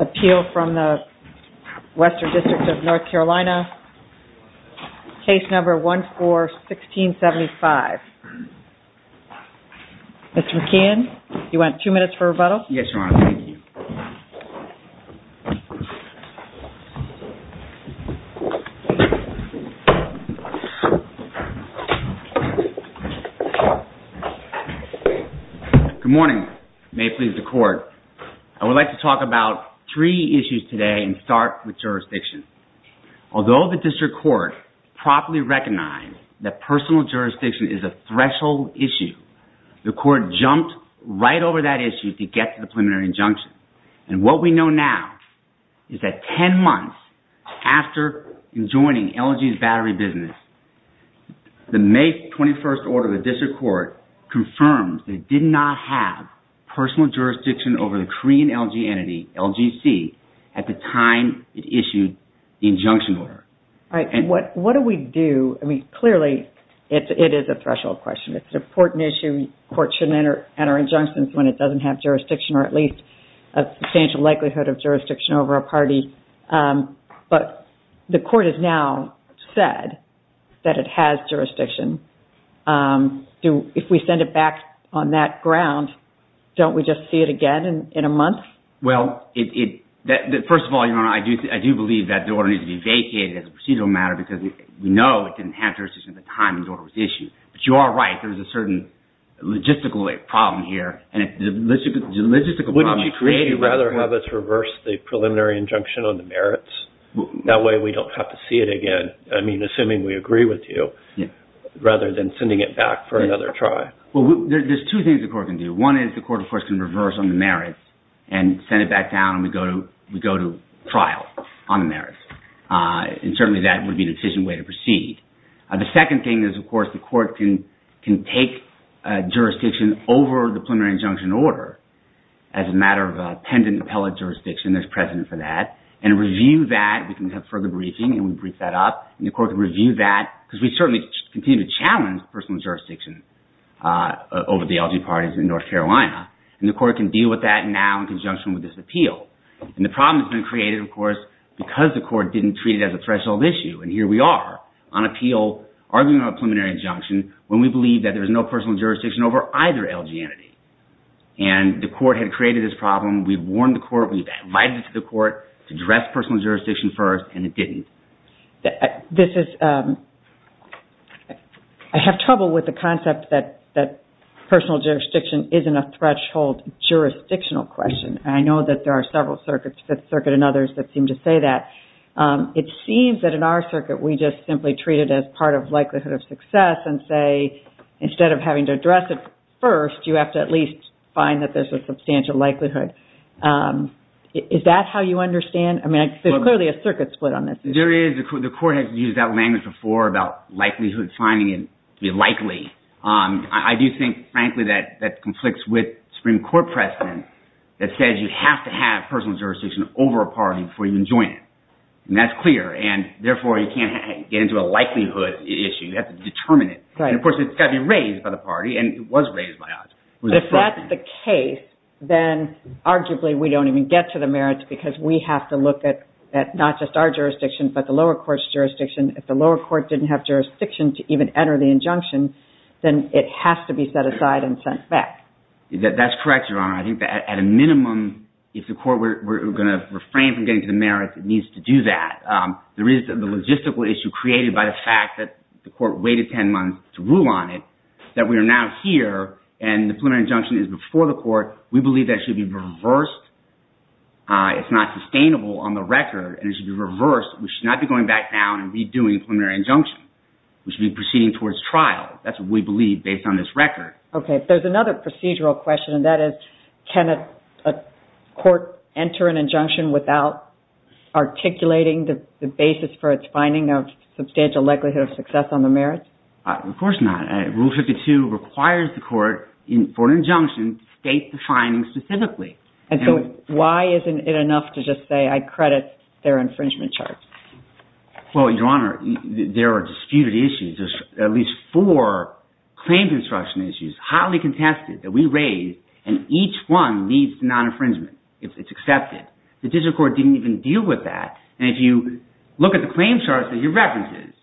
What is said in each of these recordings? Appeal from the Western District of North Carolina, Case No. 14-1675. Mr. McKeon, you want two minutes for rebuttal? Yes, Your Honor. Thank you. Good morning. May it please the Court. I would like to talk about three issues today and start with jurisdiction. Although the District Court properly recognized that personal jurisdiction is a threshold issue, the Court jumped right over that issue to get to the preliminary injunction. And what we know now is that ten months after joining LG's battery business, the May 21st order of the District Court confirmed that it did not have personal jurisdiction over the Korean LG entity, LGC, at the time it issued the injunction order. What do we do? I mean, clearly, it is a threshold question. It's an important issue. The Court shouldn't enter injunctions when it doesn't have jurisdiction or at least a substantial likelihood of jurisdiction over a party. But the Court has now said that it has jurisdiction. If we send it back on that ground, don't we just see it again in a month? Well, first of all, Your Honor, I do believe that the order needs to be vacated as a procedural matter because we know it didn't have jurisdiction at the time the order was issued. But you are right. There's a certain logistical problem here. Wouldn't you rather have us reverse the preliminary injunction on the merits? That way we don't have to see it again, I mean, assuming we agree with you, rather than sending it back for another try. Well, there's two things the Court can do. One is the Court, of course, can reverse on the merits and send it back down and we go to trial on the merits. And certainly that would be the decision way to proceed. The second thing is, of course, the Court can take jurisdiction over the preliminary injunction order as a matter of attendant appellate jurisdiction. There's precedent for that. And review that. We can have further briefing and we brief that up. And the Court can review that because we certainly continue to challenge personal jurisdiction over the LG parties in North Carolina. And the Court can deal with that now in conjunction with this appeal. And the problem has been created, of course, because the Court didn't treat it as a threshold issue. And here we are on appeal, arguing on a preliminary injunction, when we believe that there is no personal jurisdiction over either LG entity. And the Court had created this problem. We've warned the Court, we've invited it to the Court to address personal jurisdiction first, and it didn't. I have trouble with the concept that personal jurisdiction isn't a threshold jurisdictional question. And I know that there are several circuits, Fifth Circuit and others, that seem to say that. It seems that in our circuit, we just simply treat it as part of likelihood of success and say, instead of having to address it first, you have to at least find that there's a substantial likelihood. Is that how you understand? I mean, there's clearly a circuit split on this issue. There is. The Court has used that language before about likelihood finding it likely. I do think, frankly, that that conflicts with Supreme Court precedent that says you have to have personal jurisdiction over a party before you can join it. And that's clear. And therefore, you can't get into a likelihood issue. You have to determine it. And of course, it's got to be raised by the party, and it was raised by us. But if that's the case, then arguably we don't even get to the merits because we have to look at not just our jurisdiction, but the lower court's jurisdiction. If the lower court didn't have jurisdiction to even enter the injunction, then it has to be set aside and sent back. That's correct, Your Honor. I think that at a minimum, if the court were going to refrain from getting to the merits, it needs to do that. There is the logistical issue created by the fact that the court waited 10 months to rule on it, that we are now here, and the preliminary injunction is before the court. We believe that should be reversed. It's not sustainable on the record. We should not be going back down and redoing a preliminary injunction. We should be proceeding towards trial. That's what we believe based on this record. Okay. There's another procedural question, and that is can a court enter an injunction without articulating the basis for its finding of substantial likelihood of success on the merits? Of course not. Rule 52 requires the court for an injunction to state the findings specifically. Why isn't it enough to just say I credit their infringement charts? Well, Your Honor, there are disputed issues. There's at least four claims instruction issues, hotly contested, that we raised, and each one leads to non-infringement. It's accepted. The digital court didn't even deal with that, and if you look at the claims charts that you referenced,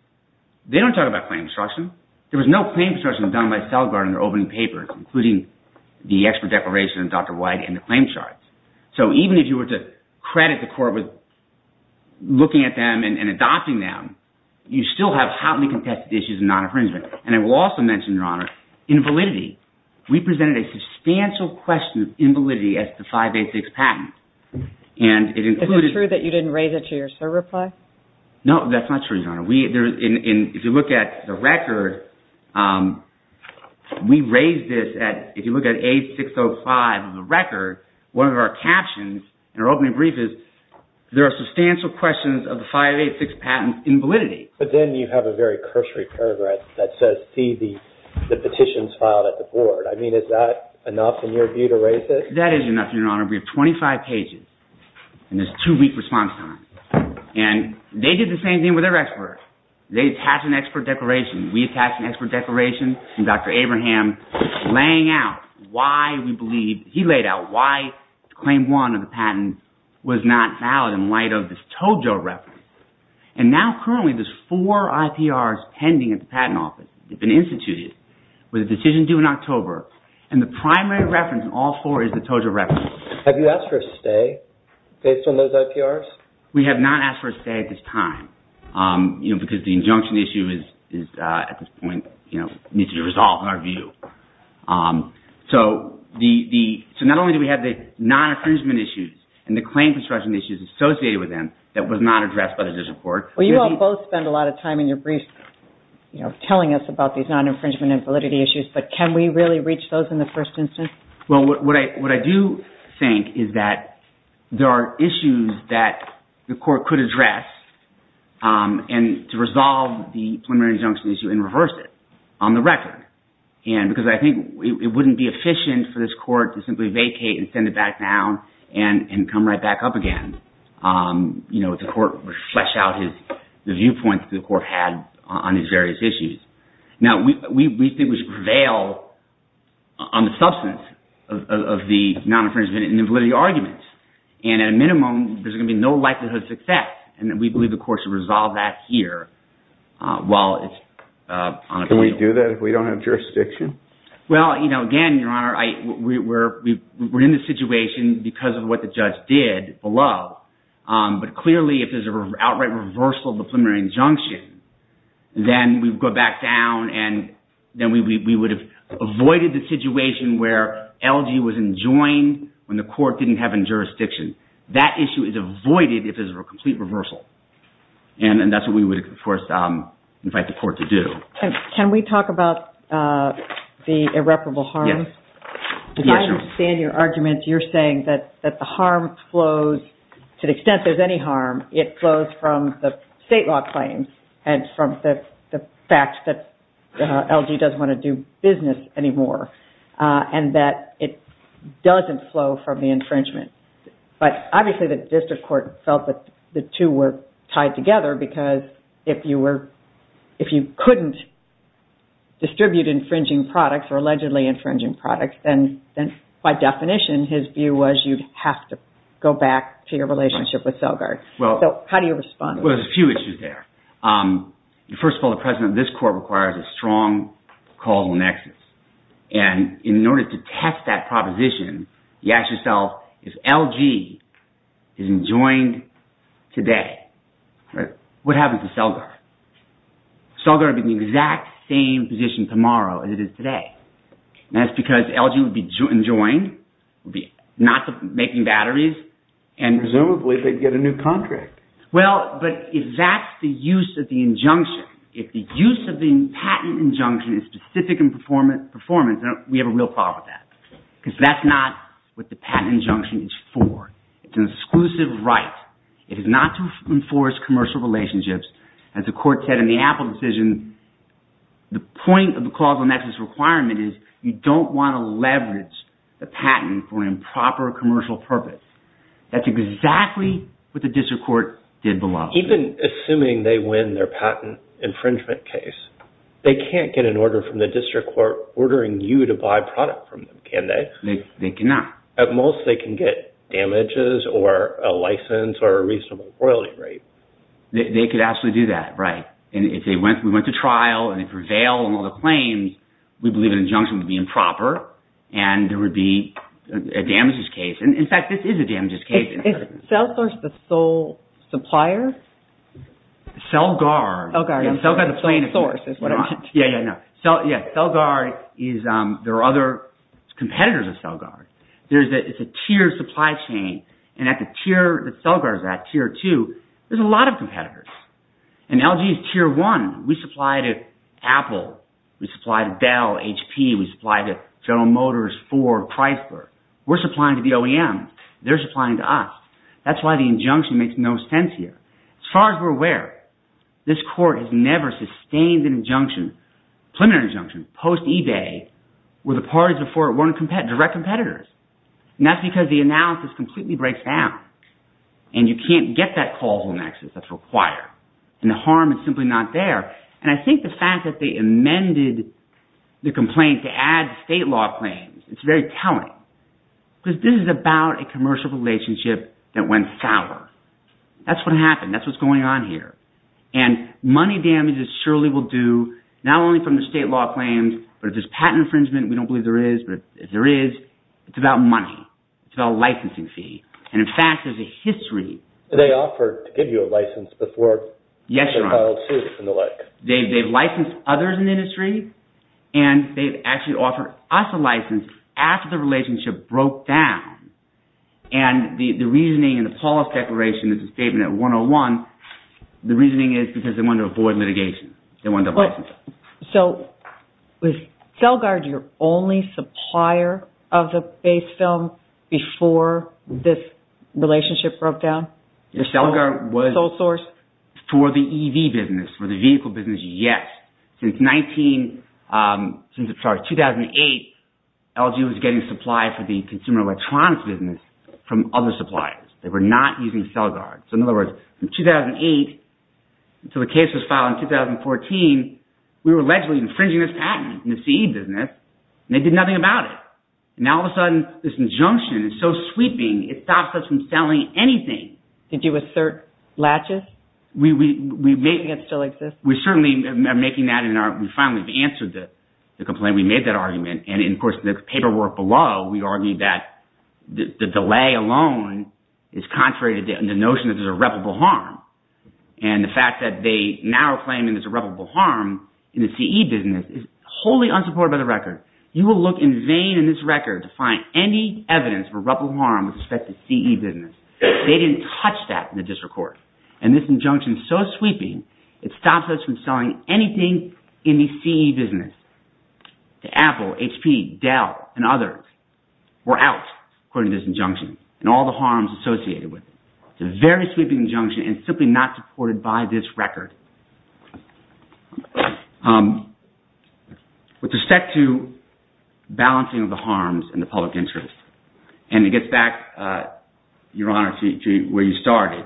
they don't talk about claims instruction. There was no claims instruction done by Celgard in their opening papers, including the expert declaration of Dr. White and the claim charts. So even if you were to credit the court with looking at them and adopting them, you still have hotly contested issues of non-infringement. And I will also mention, Your Honor, invalidity. We presented a substantial question of invalidity as to 586 patent. Is it true that you didn't raise it to your SIR reply? No, that's not true, Your Honor. If you look at the record, we raised this at, if you look at 8605 of the record, one of our captions in our opening brief is, there are substantial questions of the 586 patent invalidity. But then you have a very cursory paragraph that says, see the petitions filed at the board. I mean, is that enough in your view to raise this? If that is enough, Your Honor, we have 25 pages in this two-week response time. And they did the same thing with their expert. They attached an expert declaration. We attached an expert declaration from Dr. Abraham laying out why we believe, he laid out why claim one of the patent was not valid in light of this Tojo reference. And now currently there's four IPRs pending at the patent office. They've been instituted with a decision due in October. And the primary reference in all four is the Tojo reference. Have you asked for a stay based on those IPRs? We have not asked for a stay at this time because the injunction issue is, at this point, needs to be resolved in our view. So not only do we have the non-infringement issues and the claim construction issues associated with them that was not addressed by the judicial court. Well, you all both spend a lot of time in your briefs telling us about these non-infringement and validity issues. But can we really reach those in the first instance? Well, what I do think is that there are issues that the court could address and to resolve the preliminary injunction issue and reverse it on the record. And because I think it wouldn't be efficient for this court to simply vacate and send it back down and come right back up again. The court would flesh out the viewpoints the court had on these various issues. Now, we think we should prevail on the substance of the non-infringement and the validity arguments. And at a minimum, there's going to be no likelihood of success. And we believe the court should resolve that here while it's on appeal. Can we do that if we don't have jurisdiction? Well, again, Your Honor, we're in this situation because of what the judge did below. But clearly, if there's an outright reversal of the preliminary injunction, then we go back down and then we would have avoided the situation where LG was enjoined when the court didn't have any jurisdiction. That issue is avoided if there's a complete reversal. And that's what we would, of course, invite the court to do. Can we talk about the irreparable harm? Yes. Because I understand your argument. You're saying that the harm flows – to the extent there's any harm, it flows from the state law claims and from the fact that LG doesn't want to do business anymore. And that it doesn't flow from the infringement. But obviously, the district court felt that the two were tied together because if you couldn't distribute infringing products or allegedly infringing products, then by definition, his view was you'd have to go back to your relationship with Celgard. So how do you respond to that? Well, there's a few issues there. First of all, the presence of this court requires a strong causal nexus. And in order to test that proposition, you ask yourself, if LG is enjoined today, what happens to Celgard? Celgard would be in the exact same position tomorrow as it is today. And that's because LG would be enjoined, not making batteries. Presumably, they'd get a new contract. Well, but if that's the use of the injunction. If the use of the patent injunction is specific in performance, we have a real problem with that because that's not what the patent injunction is for. It's an exclusive right. It is not to enforce commercial relationships. As the court said in the Apple decision, the point of the causal nexus requirement is you don't want to leverage the patent for improper commercial purpose. That's exactly what the district court did below. Even assuming they win their patent infringement case, they can't get an order from the district court ordering you to buy product from them, can they? They cannot. At most, they can get damages or a license or a reasonable royalty rate. They could absolutely do that, right. And if we went to trial and they prevail on all the claims, we believe an injunction would be improper and there would be a damages case. In fact, this is a damages case. Is CellSource the sole supplier? CellGuard. CellGuard, I'm sorry. CellSource is what it is. Yeah, CellGuard is – there are other competitors of CellGuard. It's a tiered supply chain and at the tier that CellGuard is at, tier two, there's a lot of competitors. And LG is tier one. We supply to Apple. We supply to Bell, HP. We supply to General Motors, Ford, Chrysler. We're supplying to the OEM. They're supplying to us. That's why the injunction makes no sense here. As far as we're aware, this court has never sustained an injunction, preliminary injunction, post eBay where the parties before it weren't direct competitors. And that's because the analysis completely breaks down. And you can't get that causal nexus that's required. And the harm is simply not there. And I think the fact that they amended the complaint to add state law claims, it's very telling. Because this is about a commercial relationship that went sour. That's what happened. That's what's going on here. And money damages surely will do, not only from the state law claims, but if there's patent infringement. We don't believe there is, but if there is, it's about money. It's about a licensing fee. And, in fact, there's a history. They offered to give you a license before they filed suit and the like. Yes, Ron. They've licensed others in the industry, and they've actually offered us a license after the relationship broke down. And the reasoning in the Paulus Declaration, there's a statement at 101. The reasoning is because they wanted to avoid litigation. They wanted to license it. So, was Celgard your only supplier of the base film before this relationship broke down? Celgard was. The sole source. Yes. Since 2008, LG was getting supply for the consumer electronics business from other suppliers. They were not using Celgard. So, in other words, from 2008 until the case was filed in 2014, we were allegedly infringing this patent in the CE business, and they did nothing about it. And now, all of a sudden, this injunction is so sweeping, it stops us from selling anything. Did you assert latches? We certainly are making that, and we finally have answered the complaint. We made that argument. And, of course, the paperwork below, we argued that the delay alone is contrary to the notion that there's irreparable harm. And the fact that they now are claiming there's irreparable harm in the CE business is wholly unsupported by the record. You will look in vain in this record to find any evidence of irreparable harm with respect to CE business. They didn't touch that in the district court. And this injunction is so sweeping, it stops us from selling anything in the CE business to Apple, HP, Dell, and others. We're out, according to this injunction, and all the harms associated with it. It's a very sweeping injunction, and it's simply not supported by this record. With respect to balancing of the harms and the public interest, and it gets back, Your Honor, to where you started.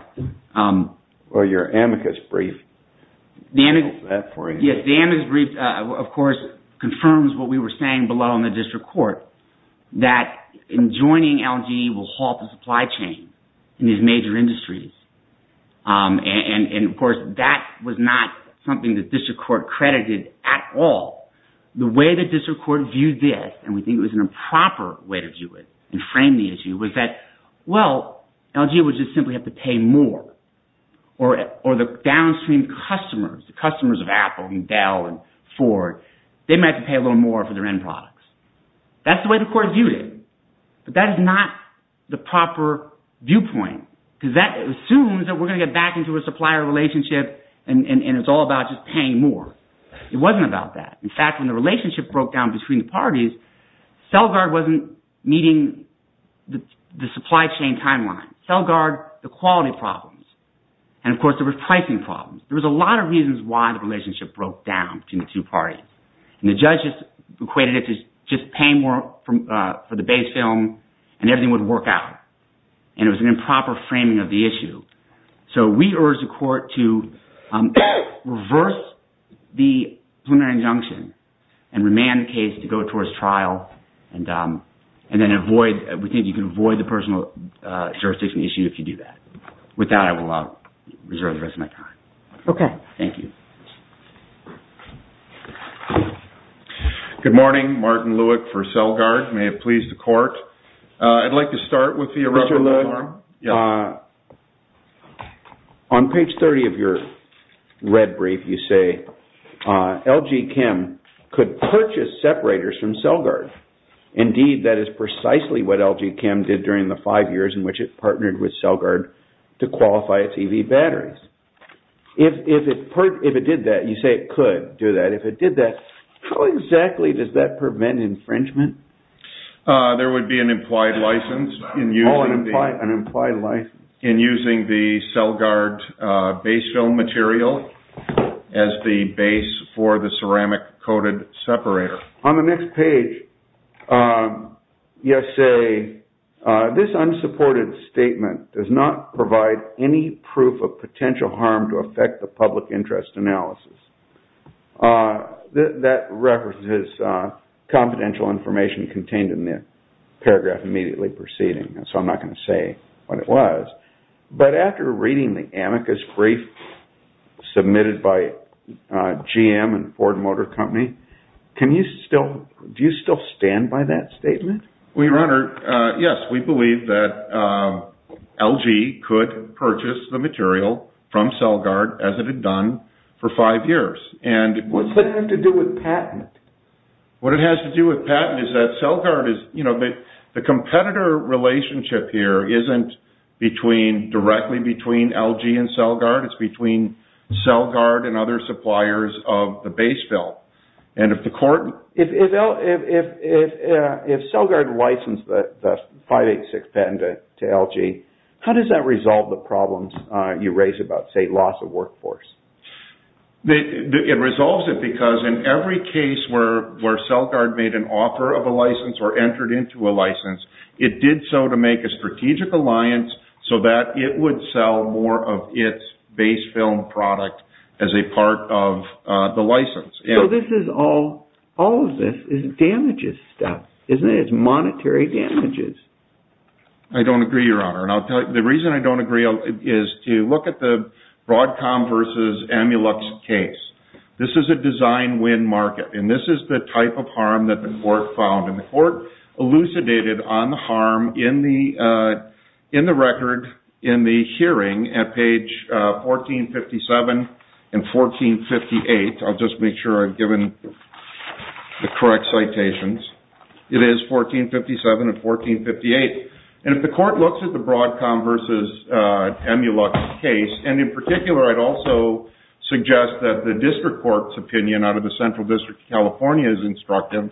Well, your amicus brief. Yes, the amicus brief, of course, confirms what we were saying below in the district court, that enjoining LGE will halt the supply chain in these major industries. And, of course, that was not something the district court credited at all. The way the district court viewed this, and we think it was an improper way to view it and frame the issue, was that, well, LGE would just simply have to pay more. Or the downstream customers, the customers of Apple and Dell and Ford, they might have to pay a little more for their end products. That's the way the court viewed it. But that is not the proper viewpoint, because that assumes that we're going to get back into a supplier relationship, and it's all about just paying more. It wasn't about that. In fact, when the relationship broke down between the parties, Celgard wasn't meeting the supply chain timeline. Celgard, the quality problems, and, of course, there were pricing problems. There was a lot of reasons why the relationship broke down between the two parties. And the judges equated it to just paying more for the base film, and everything would work out. And it was an improper framing of the issue. So we urge the court to reverse the preliminary injunction and remand the case to go towards trial, and then avoid – we think you can avoid the personal jurisdiction issue if you do that. With that, I will reserve the rest of my time. Okay. Thank you. Good morning. Martin Lueck for Celgard. May it please the court. I'd like to start with the – Mr. Lueck, on page 30 of your red brief, you say LG Chem could purchase separators from Celgard. Indeed, that is precisely what LG Chem did during the five years in which it partnered with Celgard to qualify its EV batteries. If it did that – you say it could do that. If it did that, how exactly does that prevent infringement? There would be an implied license in using the Celgard base film material as the base for the ceramic-coated separator. On the next page, you say, this unsupported statement does not provide any proof of potential harm to affect the public interest analysis. That reference is confidential information contained in the paragraph immediately preceding, so I'm not going to say what it was. But after reading the amicus brief submitted by GM and Ford Motor Company, can you still – do you still stand by that statement? Your Honor, yes, we believe that LG could purchase the material from Celgard as it had done for five years. What does that have to do with patent? What it has to do with patent is that Celgard is – the competitor relationship here isn't between – directly between LG and Celgard. It's between Celgard and other suppliers of the base film. If Celgard licensed the 586 patent to LG, how does that resolve the problems you raise about, say, loss of workforce? It resolves it because in every case where Celgard made an offer of a license or entered into a license, it did so to make a strategic alliance so that it would sell more of its base film product as a part of the license. So this is all – all of this is damages stuff, isn't it? It's monetary damages. I don't agree, Your Honor, and I'll tell you – the reason I don't agree is to look at the Broadcom versus Amulux case. This is a design-win market, and this is the type of harm that the court found. And the court elucidated on the harm in the record in the hearing at page 1457 and 1458. I'll just make sure I've given the correct citations. It is 1457 and 1458. And if the court looks at the Broadcom versus Amulux case, and in particular, I'd also suggest that the district court's opinion out of the Central District of California is instructive.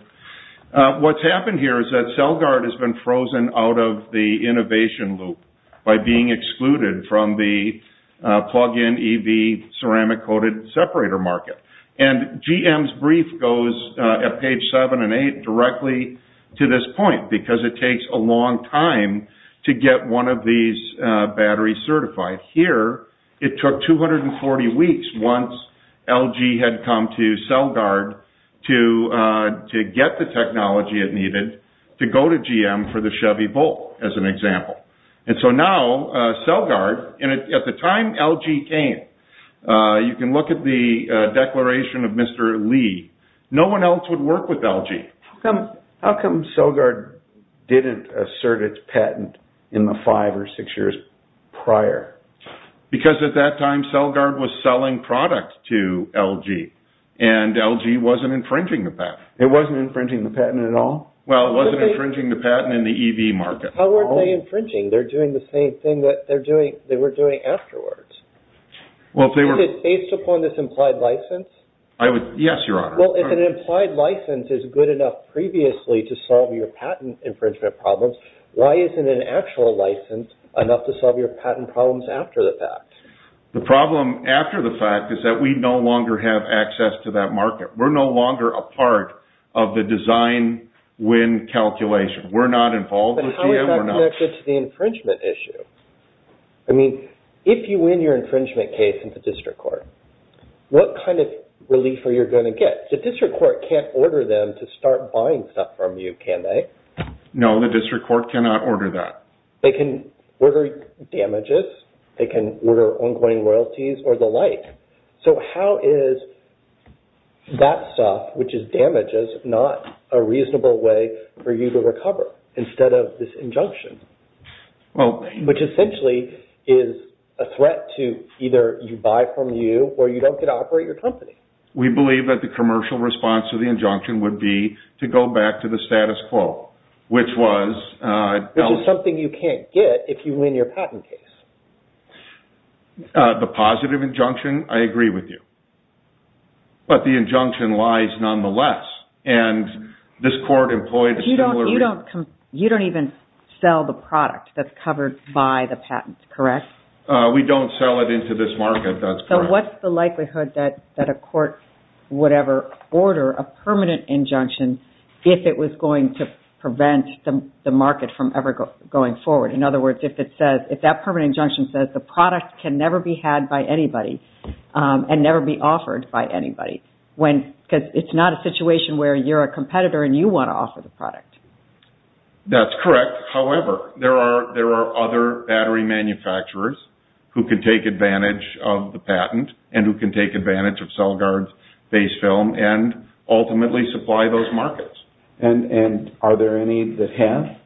What's happened here is that Celgard has been frozen out of the innovation loop by being excluded from the plug-in EV ceramic-coated separator market. And GM's brief goes at page 7 and 8 directly to this point because it takes a long time to get one of these batteries certified. Here, it took 240 weeks once LG had come to Celgard to get the technology it needed to go to GM for the Chevy Volt, as an example. And so now, Celgard, and at the time LG came, you can look at the declaration of Mr. Lee, no one else would work with LG. How come Celgard didn't assert its patent in the five or six years prior? Because at that time, Celgard was selling products to LG, and LG wasn't infringing the patent. It wasn't infringing the patent at all? Well, it wasn't infringing the patent in the EV market. How were they infringing? They're doing the same thing that they were doing afterwards. Is it based upon this implied license? Yes, Your Honor. Well, if an implied license is good enough previously to solve your patent infringement problems, why isn't an actual license enough to solve your patent problems after the fact? The problem after the fact is that we no longer have access to that market. We're no longer a part of the design-win calculation. But how is that connected to the infringement issue? I mean, if you win your infringement case in the district court, what kind of relief are you going to get? The district court can't order them to start buying stuff from you, can they? No, the district court cannot order that. They can order damages. They can order ongoing royalties or the like. So how is that stuff, which is damages, not a reasonable way for you to recover instead of this injunction? Well... Which essentially is a threat to either you buy from you or you don't get to operate your company. We believe that the commercial response to the injunction would be to go back to the status quo, which was... Which is something you can't get if you win your patent case. The positive injunction, I agree with you. But the injunction lies nonetheless. And this court employed a similar... You don't even sell the product that's covered by the patent, correct? We don't sell it into this market, that's correct. So what's the likelihood that a court would ever order a permanent injunction if it was going to prevent the market from ever going forward? In other words, if that permanent injunction says the product can never be had by anybody and never be offered by anybody, because it's not a situation where you're a competitor and you want to offer the product. That's correct. However, there are other battery manufacturers who can take advantage of the patent and who can take advantage of Celgard's base film and ultimately supply those markets. And are there any that have?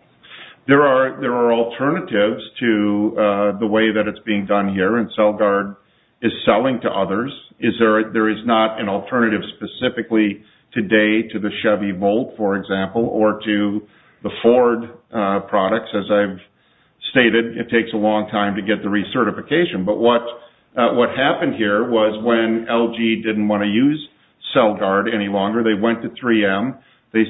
There are alternatives to the way that it's being done here. And Celgard is selling to others. There is not an alternative specifically today to the Chevy Volt, for example, or to the Ford products, as I've stated. It takes a long time to get the recertification. But what happened here was when LG didn't want to use Celgard any longer, they went to 3M,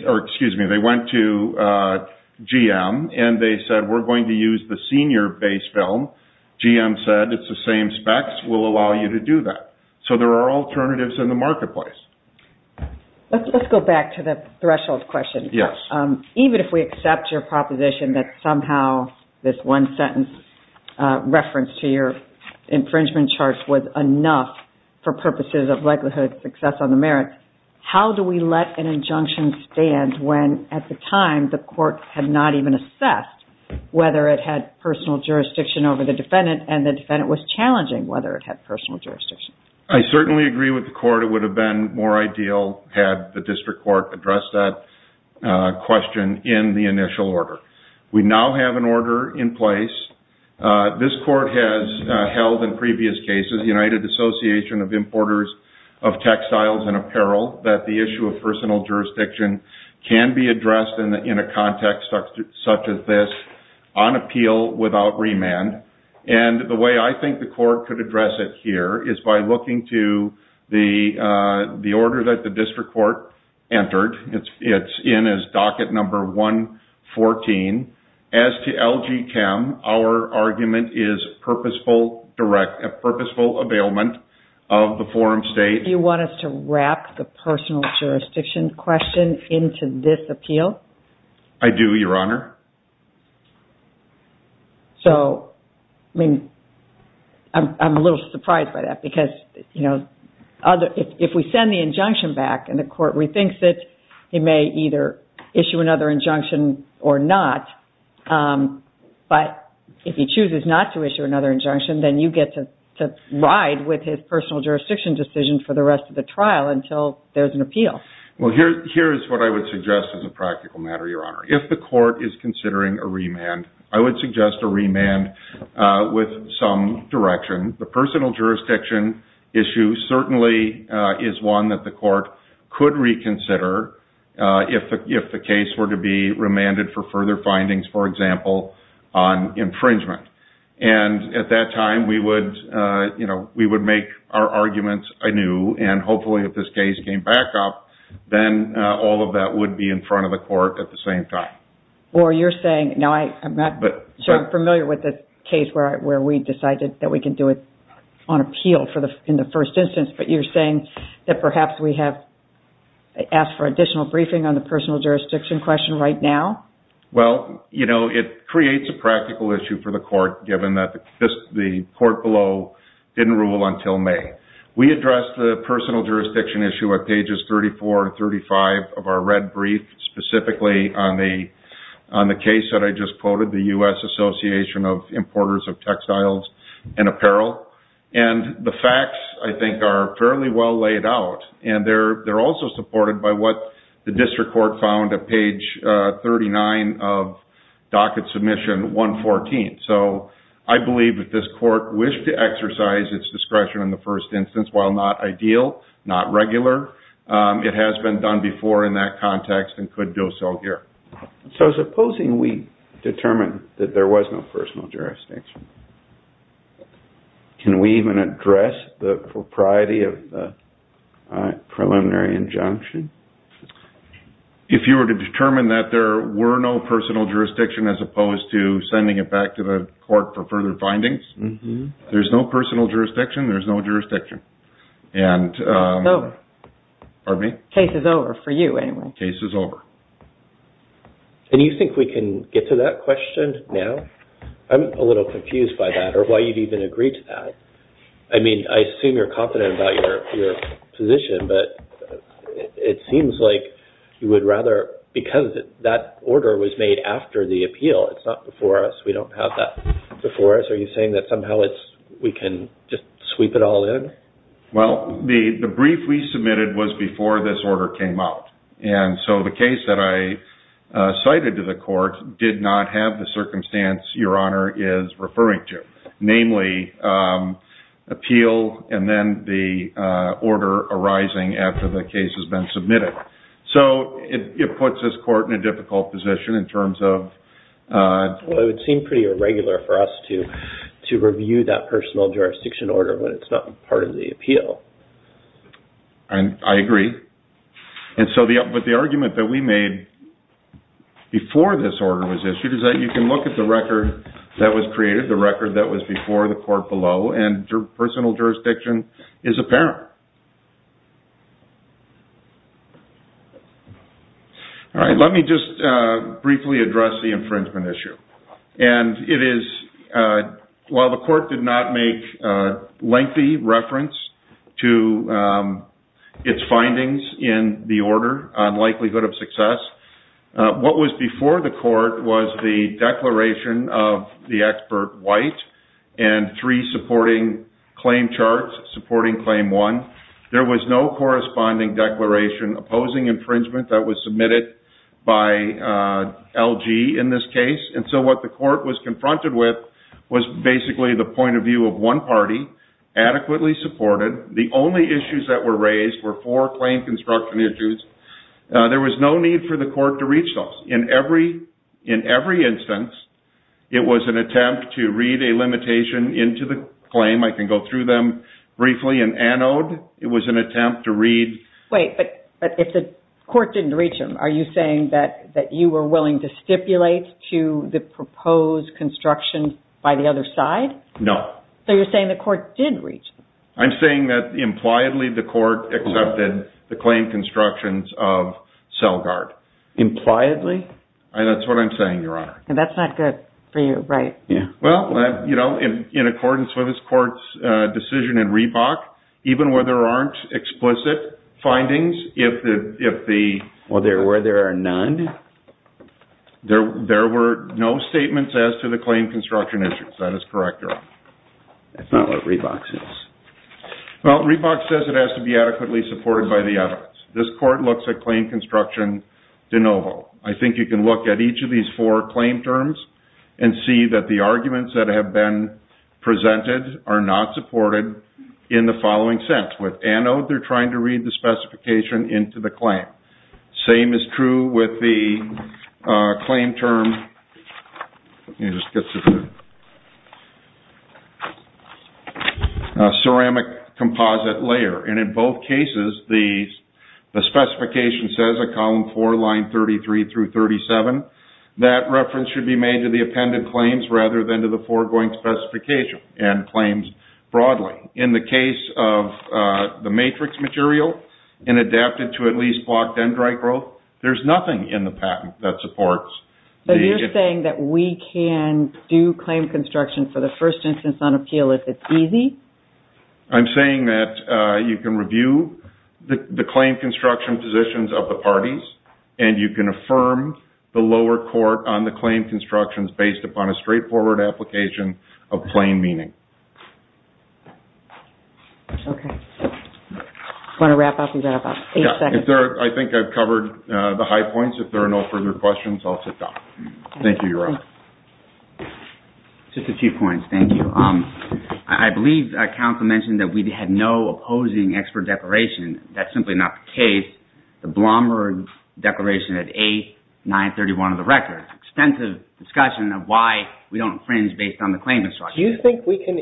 or excuse me, they went to GM, and they said we're going to use the senior base film. GM said it's the same specs. We'll allow you to do that. So there are alternatives in the marketplace. Let's go back to the threshold question. Yes. Even if we accept your proposition that somehow this one-sentence reference to your infringement charge was enough for purposes of likelihood success on the merits, how do we let an injunction stand when at the time the court had not even assessed whether it had personal jurisdiction over the defendant and the defendant was challenging whether it had personal jurisdiction? I certainly agree with the court. It would have been more ideal had the district court addressed that question in the initial order. We now have an order in place. This court has held in previous cases as United Association of Importers of Textiles and Apparel that the issue of personal jurisdiction can be addressed in a context such as this on appeal without remand. And the way I think the court could address it here is by looking to the order that the district court entered. It's in as docket number 114. As to LG Chem, our argument is purposeful availment of the forum state. Do you want us to wrap the personal jurisdiction question into this appeal? I do, Your Honor. So, I mean, I'm a little surprised by that because, you know, if we send the injunction back and the court rethinks it, it may either issue another injunction or not. But if he chooses not to issue another injunction, then you get to ride with his personal jurisdiction decision for the rest of the trial until there's an appeal. Well, here is what I would suggest as a practical matter, Your Honor. If the court is considering a remand, I would suggest a remand with some direction. The personal jurisdiction issue certainly is one that the court could reconsider if the case were to be remanded for further findings, for example, on infringement. And at that time, we would, you know, we would make our arguments anew. And hopefully if this case came back up, then all of that would be in front of the court at the same time. Or you're saying, now I'm not sure I'm familiar with the case where we decided that we can do it on appeal in the first instance, but you're saying that perhaps we have asked for additional briefing on the personal jurisdiction question right now? Well, you know, it creates a practical issue for the court given that the court below didn't rule until May. We addressed the personal jurisdiction issue at pages 34 and 35 of our red brief, specifically on the case that I just quoted, the U.S. Association of Importers of Textiles and Apparel. And the facts, I think, are fairly well laid out. And they're also supported by what the district court found at page 39 of docket submission 114. So I believe that this court wished to exercise its discretion in the first instance. While not ideal, not regular, it has been done before in that context and could do so here. So supposing we determined that there was no personal jurisdiction, can we even address the propriety of the preliminary injunction? If you were to determine that there were no personal jurisdiction, as opposed to sending it back to the court for further findings, there's no personal jurisdiction, there's no jurisdiction. Case is over for you anyway. Case is over. And you think we can get to that question now? I'm a little confused by that or why you've even agreed to that. I mean, I assume you're confident about your position, but it seems like you would rather, because that order was made after the appeal, it's not before us, we don't have that before us. Are you saying that somehow we can just sweep it all in? Well, the brief we submitted was before this order came out. And so the case that I cited to the court did not have the circumstance Your Honor is referring to. Namely, appeal and then the order arising after the case has been submitted. So it puts this court in a difficult position in terms of... Well, it would seem pretty irregular for us to review that personal jurisdiction order when it's not part of the appeal. I agree. And so the argument that we made before this order was issued is that you can look at the record that was created, the record that was before the court below, and personal jurisdiction is apparent. All right, let me just briefly address the infringement issue. And it is... While the court did not make lengthy reference to its findings in the order on likelihood of success, what was before the court was the declaration of the expert white and three supporting claim charts, supporting claim one. There was no corresponding declaration opposing infringement that was submitted by LG in this case. And so what the court was confronted with was basically the point of view of one party adequately supported. The only issues that were raised were four claim construction issues. There was no need for the court to reach those. In every instance, it was an attempt to read a limitation into the claim. I can go through them briefly in anode. It was an attempt to read... Wait, but if the court didn't reach them, are you saying that you were willing to stipulate to the proposed construction by the other side? No. So you're saying the court did reach them. I'm saying that impliedly the court accepted the claim constructions of Selgard. Impliedly? That's what I'm saying, Your Honor. And that's not good for you, right? Well, you know, in accordance with this court's decision in Reebok, even where there aren't explicit findings, if the... Well, where there are none? There were no statements as to the claim construction issues. That is correct, Your Honor. That's not what Reebok says. Well, Reebok says it has to be adequately supported by the evidence. This court looks at claim construction de novo. I think you can look at each of these four claim terms and see that the arguments that have been presented are not supported in the following sense. With anode, they're trying to read the specification into the claim. Same is true with the claim term... Let me just get to the... Ceramic composite layer. And in both cases, the specification says at column four, line 33 through 37, that reference should be made to the appended claims rather than to the foregoing specification and claims broadly. In the case of the matrix material and adapted to at least blocked dendrite growth, there's nothing in the patent that supports... So you're saying that we can do claim construction for the first instance on appeal if it's easy? I'm saying that you can review the claim construction positions of the parties and you can affirm the lower court on the claim constructions based upon a straightforward application of plain meaning. Okay. Want to wrap up and wrap up? Eight seconds. I think I've covered the high points. If there are no further questions, I'll sit down. Thank you, Your Honor. Just a few points. Thank you. I believe counsel mentioned that we had no opposing expert declaration. That's simply not the case. The Blomberg declaration at 8, 931 of the record. Extensive discussion of why we don't infringe based on the claim construction. Do you think we can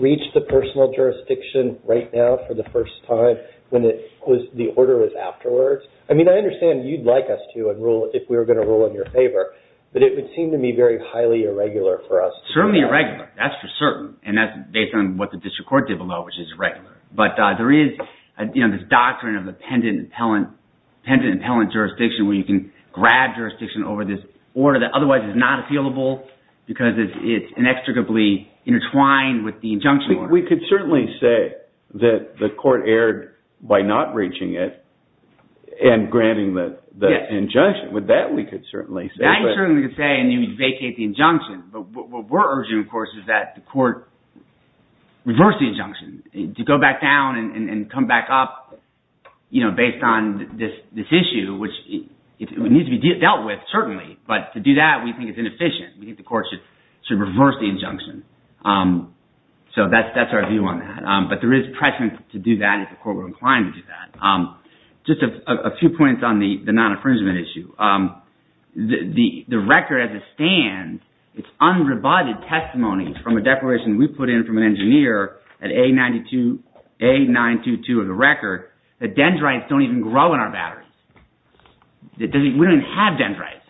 reach the personal jurisdiction right now for the first time when the order is afterwards? I mean, I understand you'd like us to enroll if we were going to enroll in your favor, but it would seem to me very highly irregular for us. Certainly irregular. That's for certain. And that's based on what the district court did below, which is regular. But there is this doctrine of the pendant-impellant jurisdiction where you can grab jurisdiction over this order that otherwise is not appealable because it's inextricably intertwined with the injunction order. We could certainly say that the court erred by not reaching it and granting the injunction. With that, we could certainly say. That you certainly could say and you vacate the injunction. But what we're urging, of course, is that the court reverse the injunction to go back down and come back up based on this issue, which it needs to be dealt with, certainly. But to do that, we think it's inefficient. We think the court should reverse the injunction. So that's our view on that. But there is preference to do that if the court were inclined to do that. Just a few points on the non-infringement issue. The record as it stands, it's unrebutted testimony from a declaration we put in from an engineer at A922 of the record that dendrites don't even grow in our batteries. We don't even have dendrites.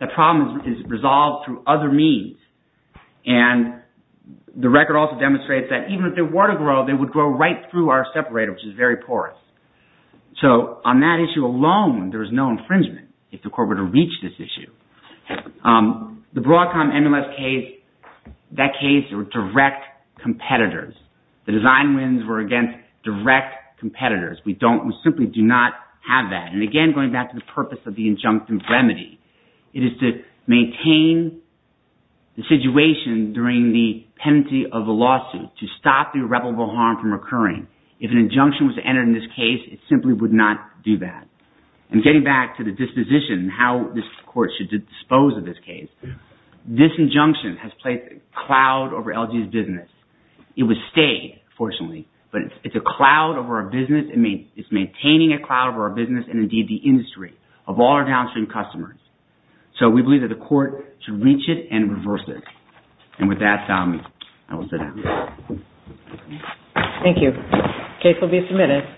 The problem is resolved through other means. And the record also demonstrates that even if they were to grow, they would grow right through our separator, which is very porous. So on that issue alone, there is no infringement if the court were to reach this issue. The Broadcom MLS case, that case were direct competitors. The design wins were against direct competitors. We simply do not have that. And again, going back to the purpose of the injunction remedy, it is to maintain the situation during the penalty of the lawsuit to stop the irreparable harm from occurring. If an injunction was to enter in this case, it simply would not do that. And getting back to the disposition, how this court should dispose of this case, this injunction has placed a cloud over LG's business. It would stay, fortunately, but it's a cloud over our business. It's maintaining a cloud over our business and indeed the industry of all our downstream customers. So we believe that the court should reach it and reverse it. And with that, I will sit down. Thank you. Case will be submitted.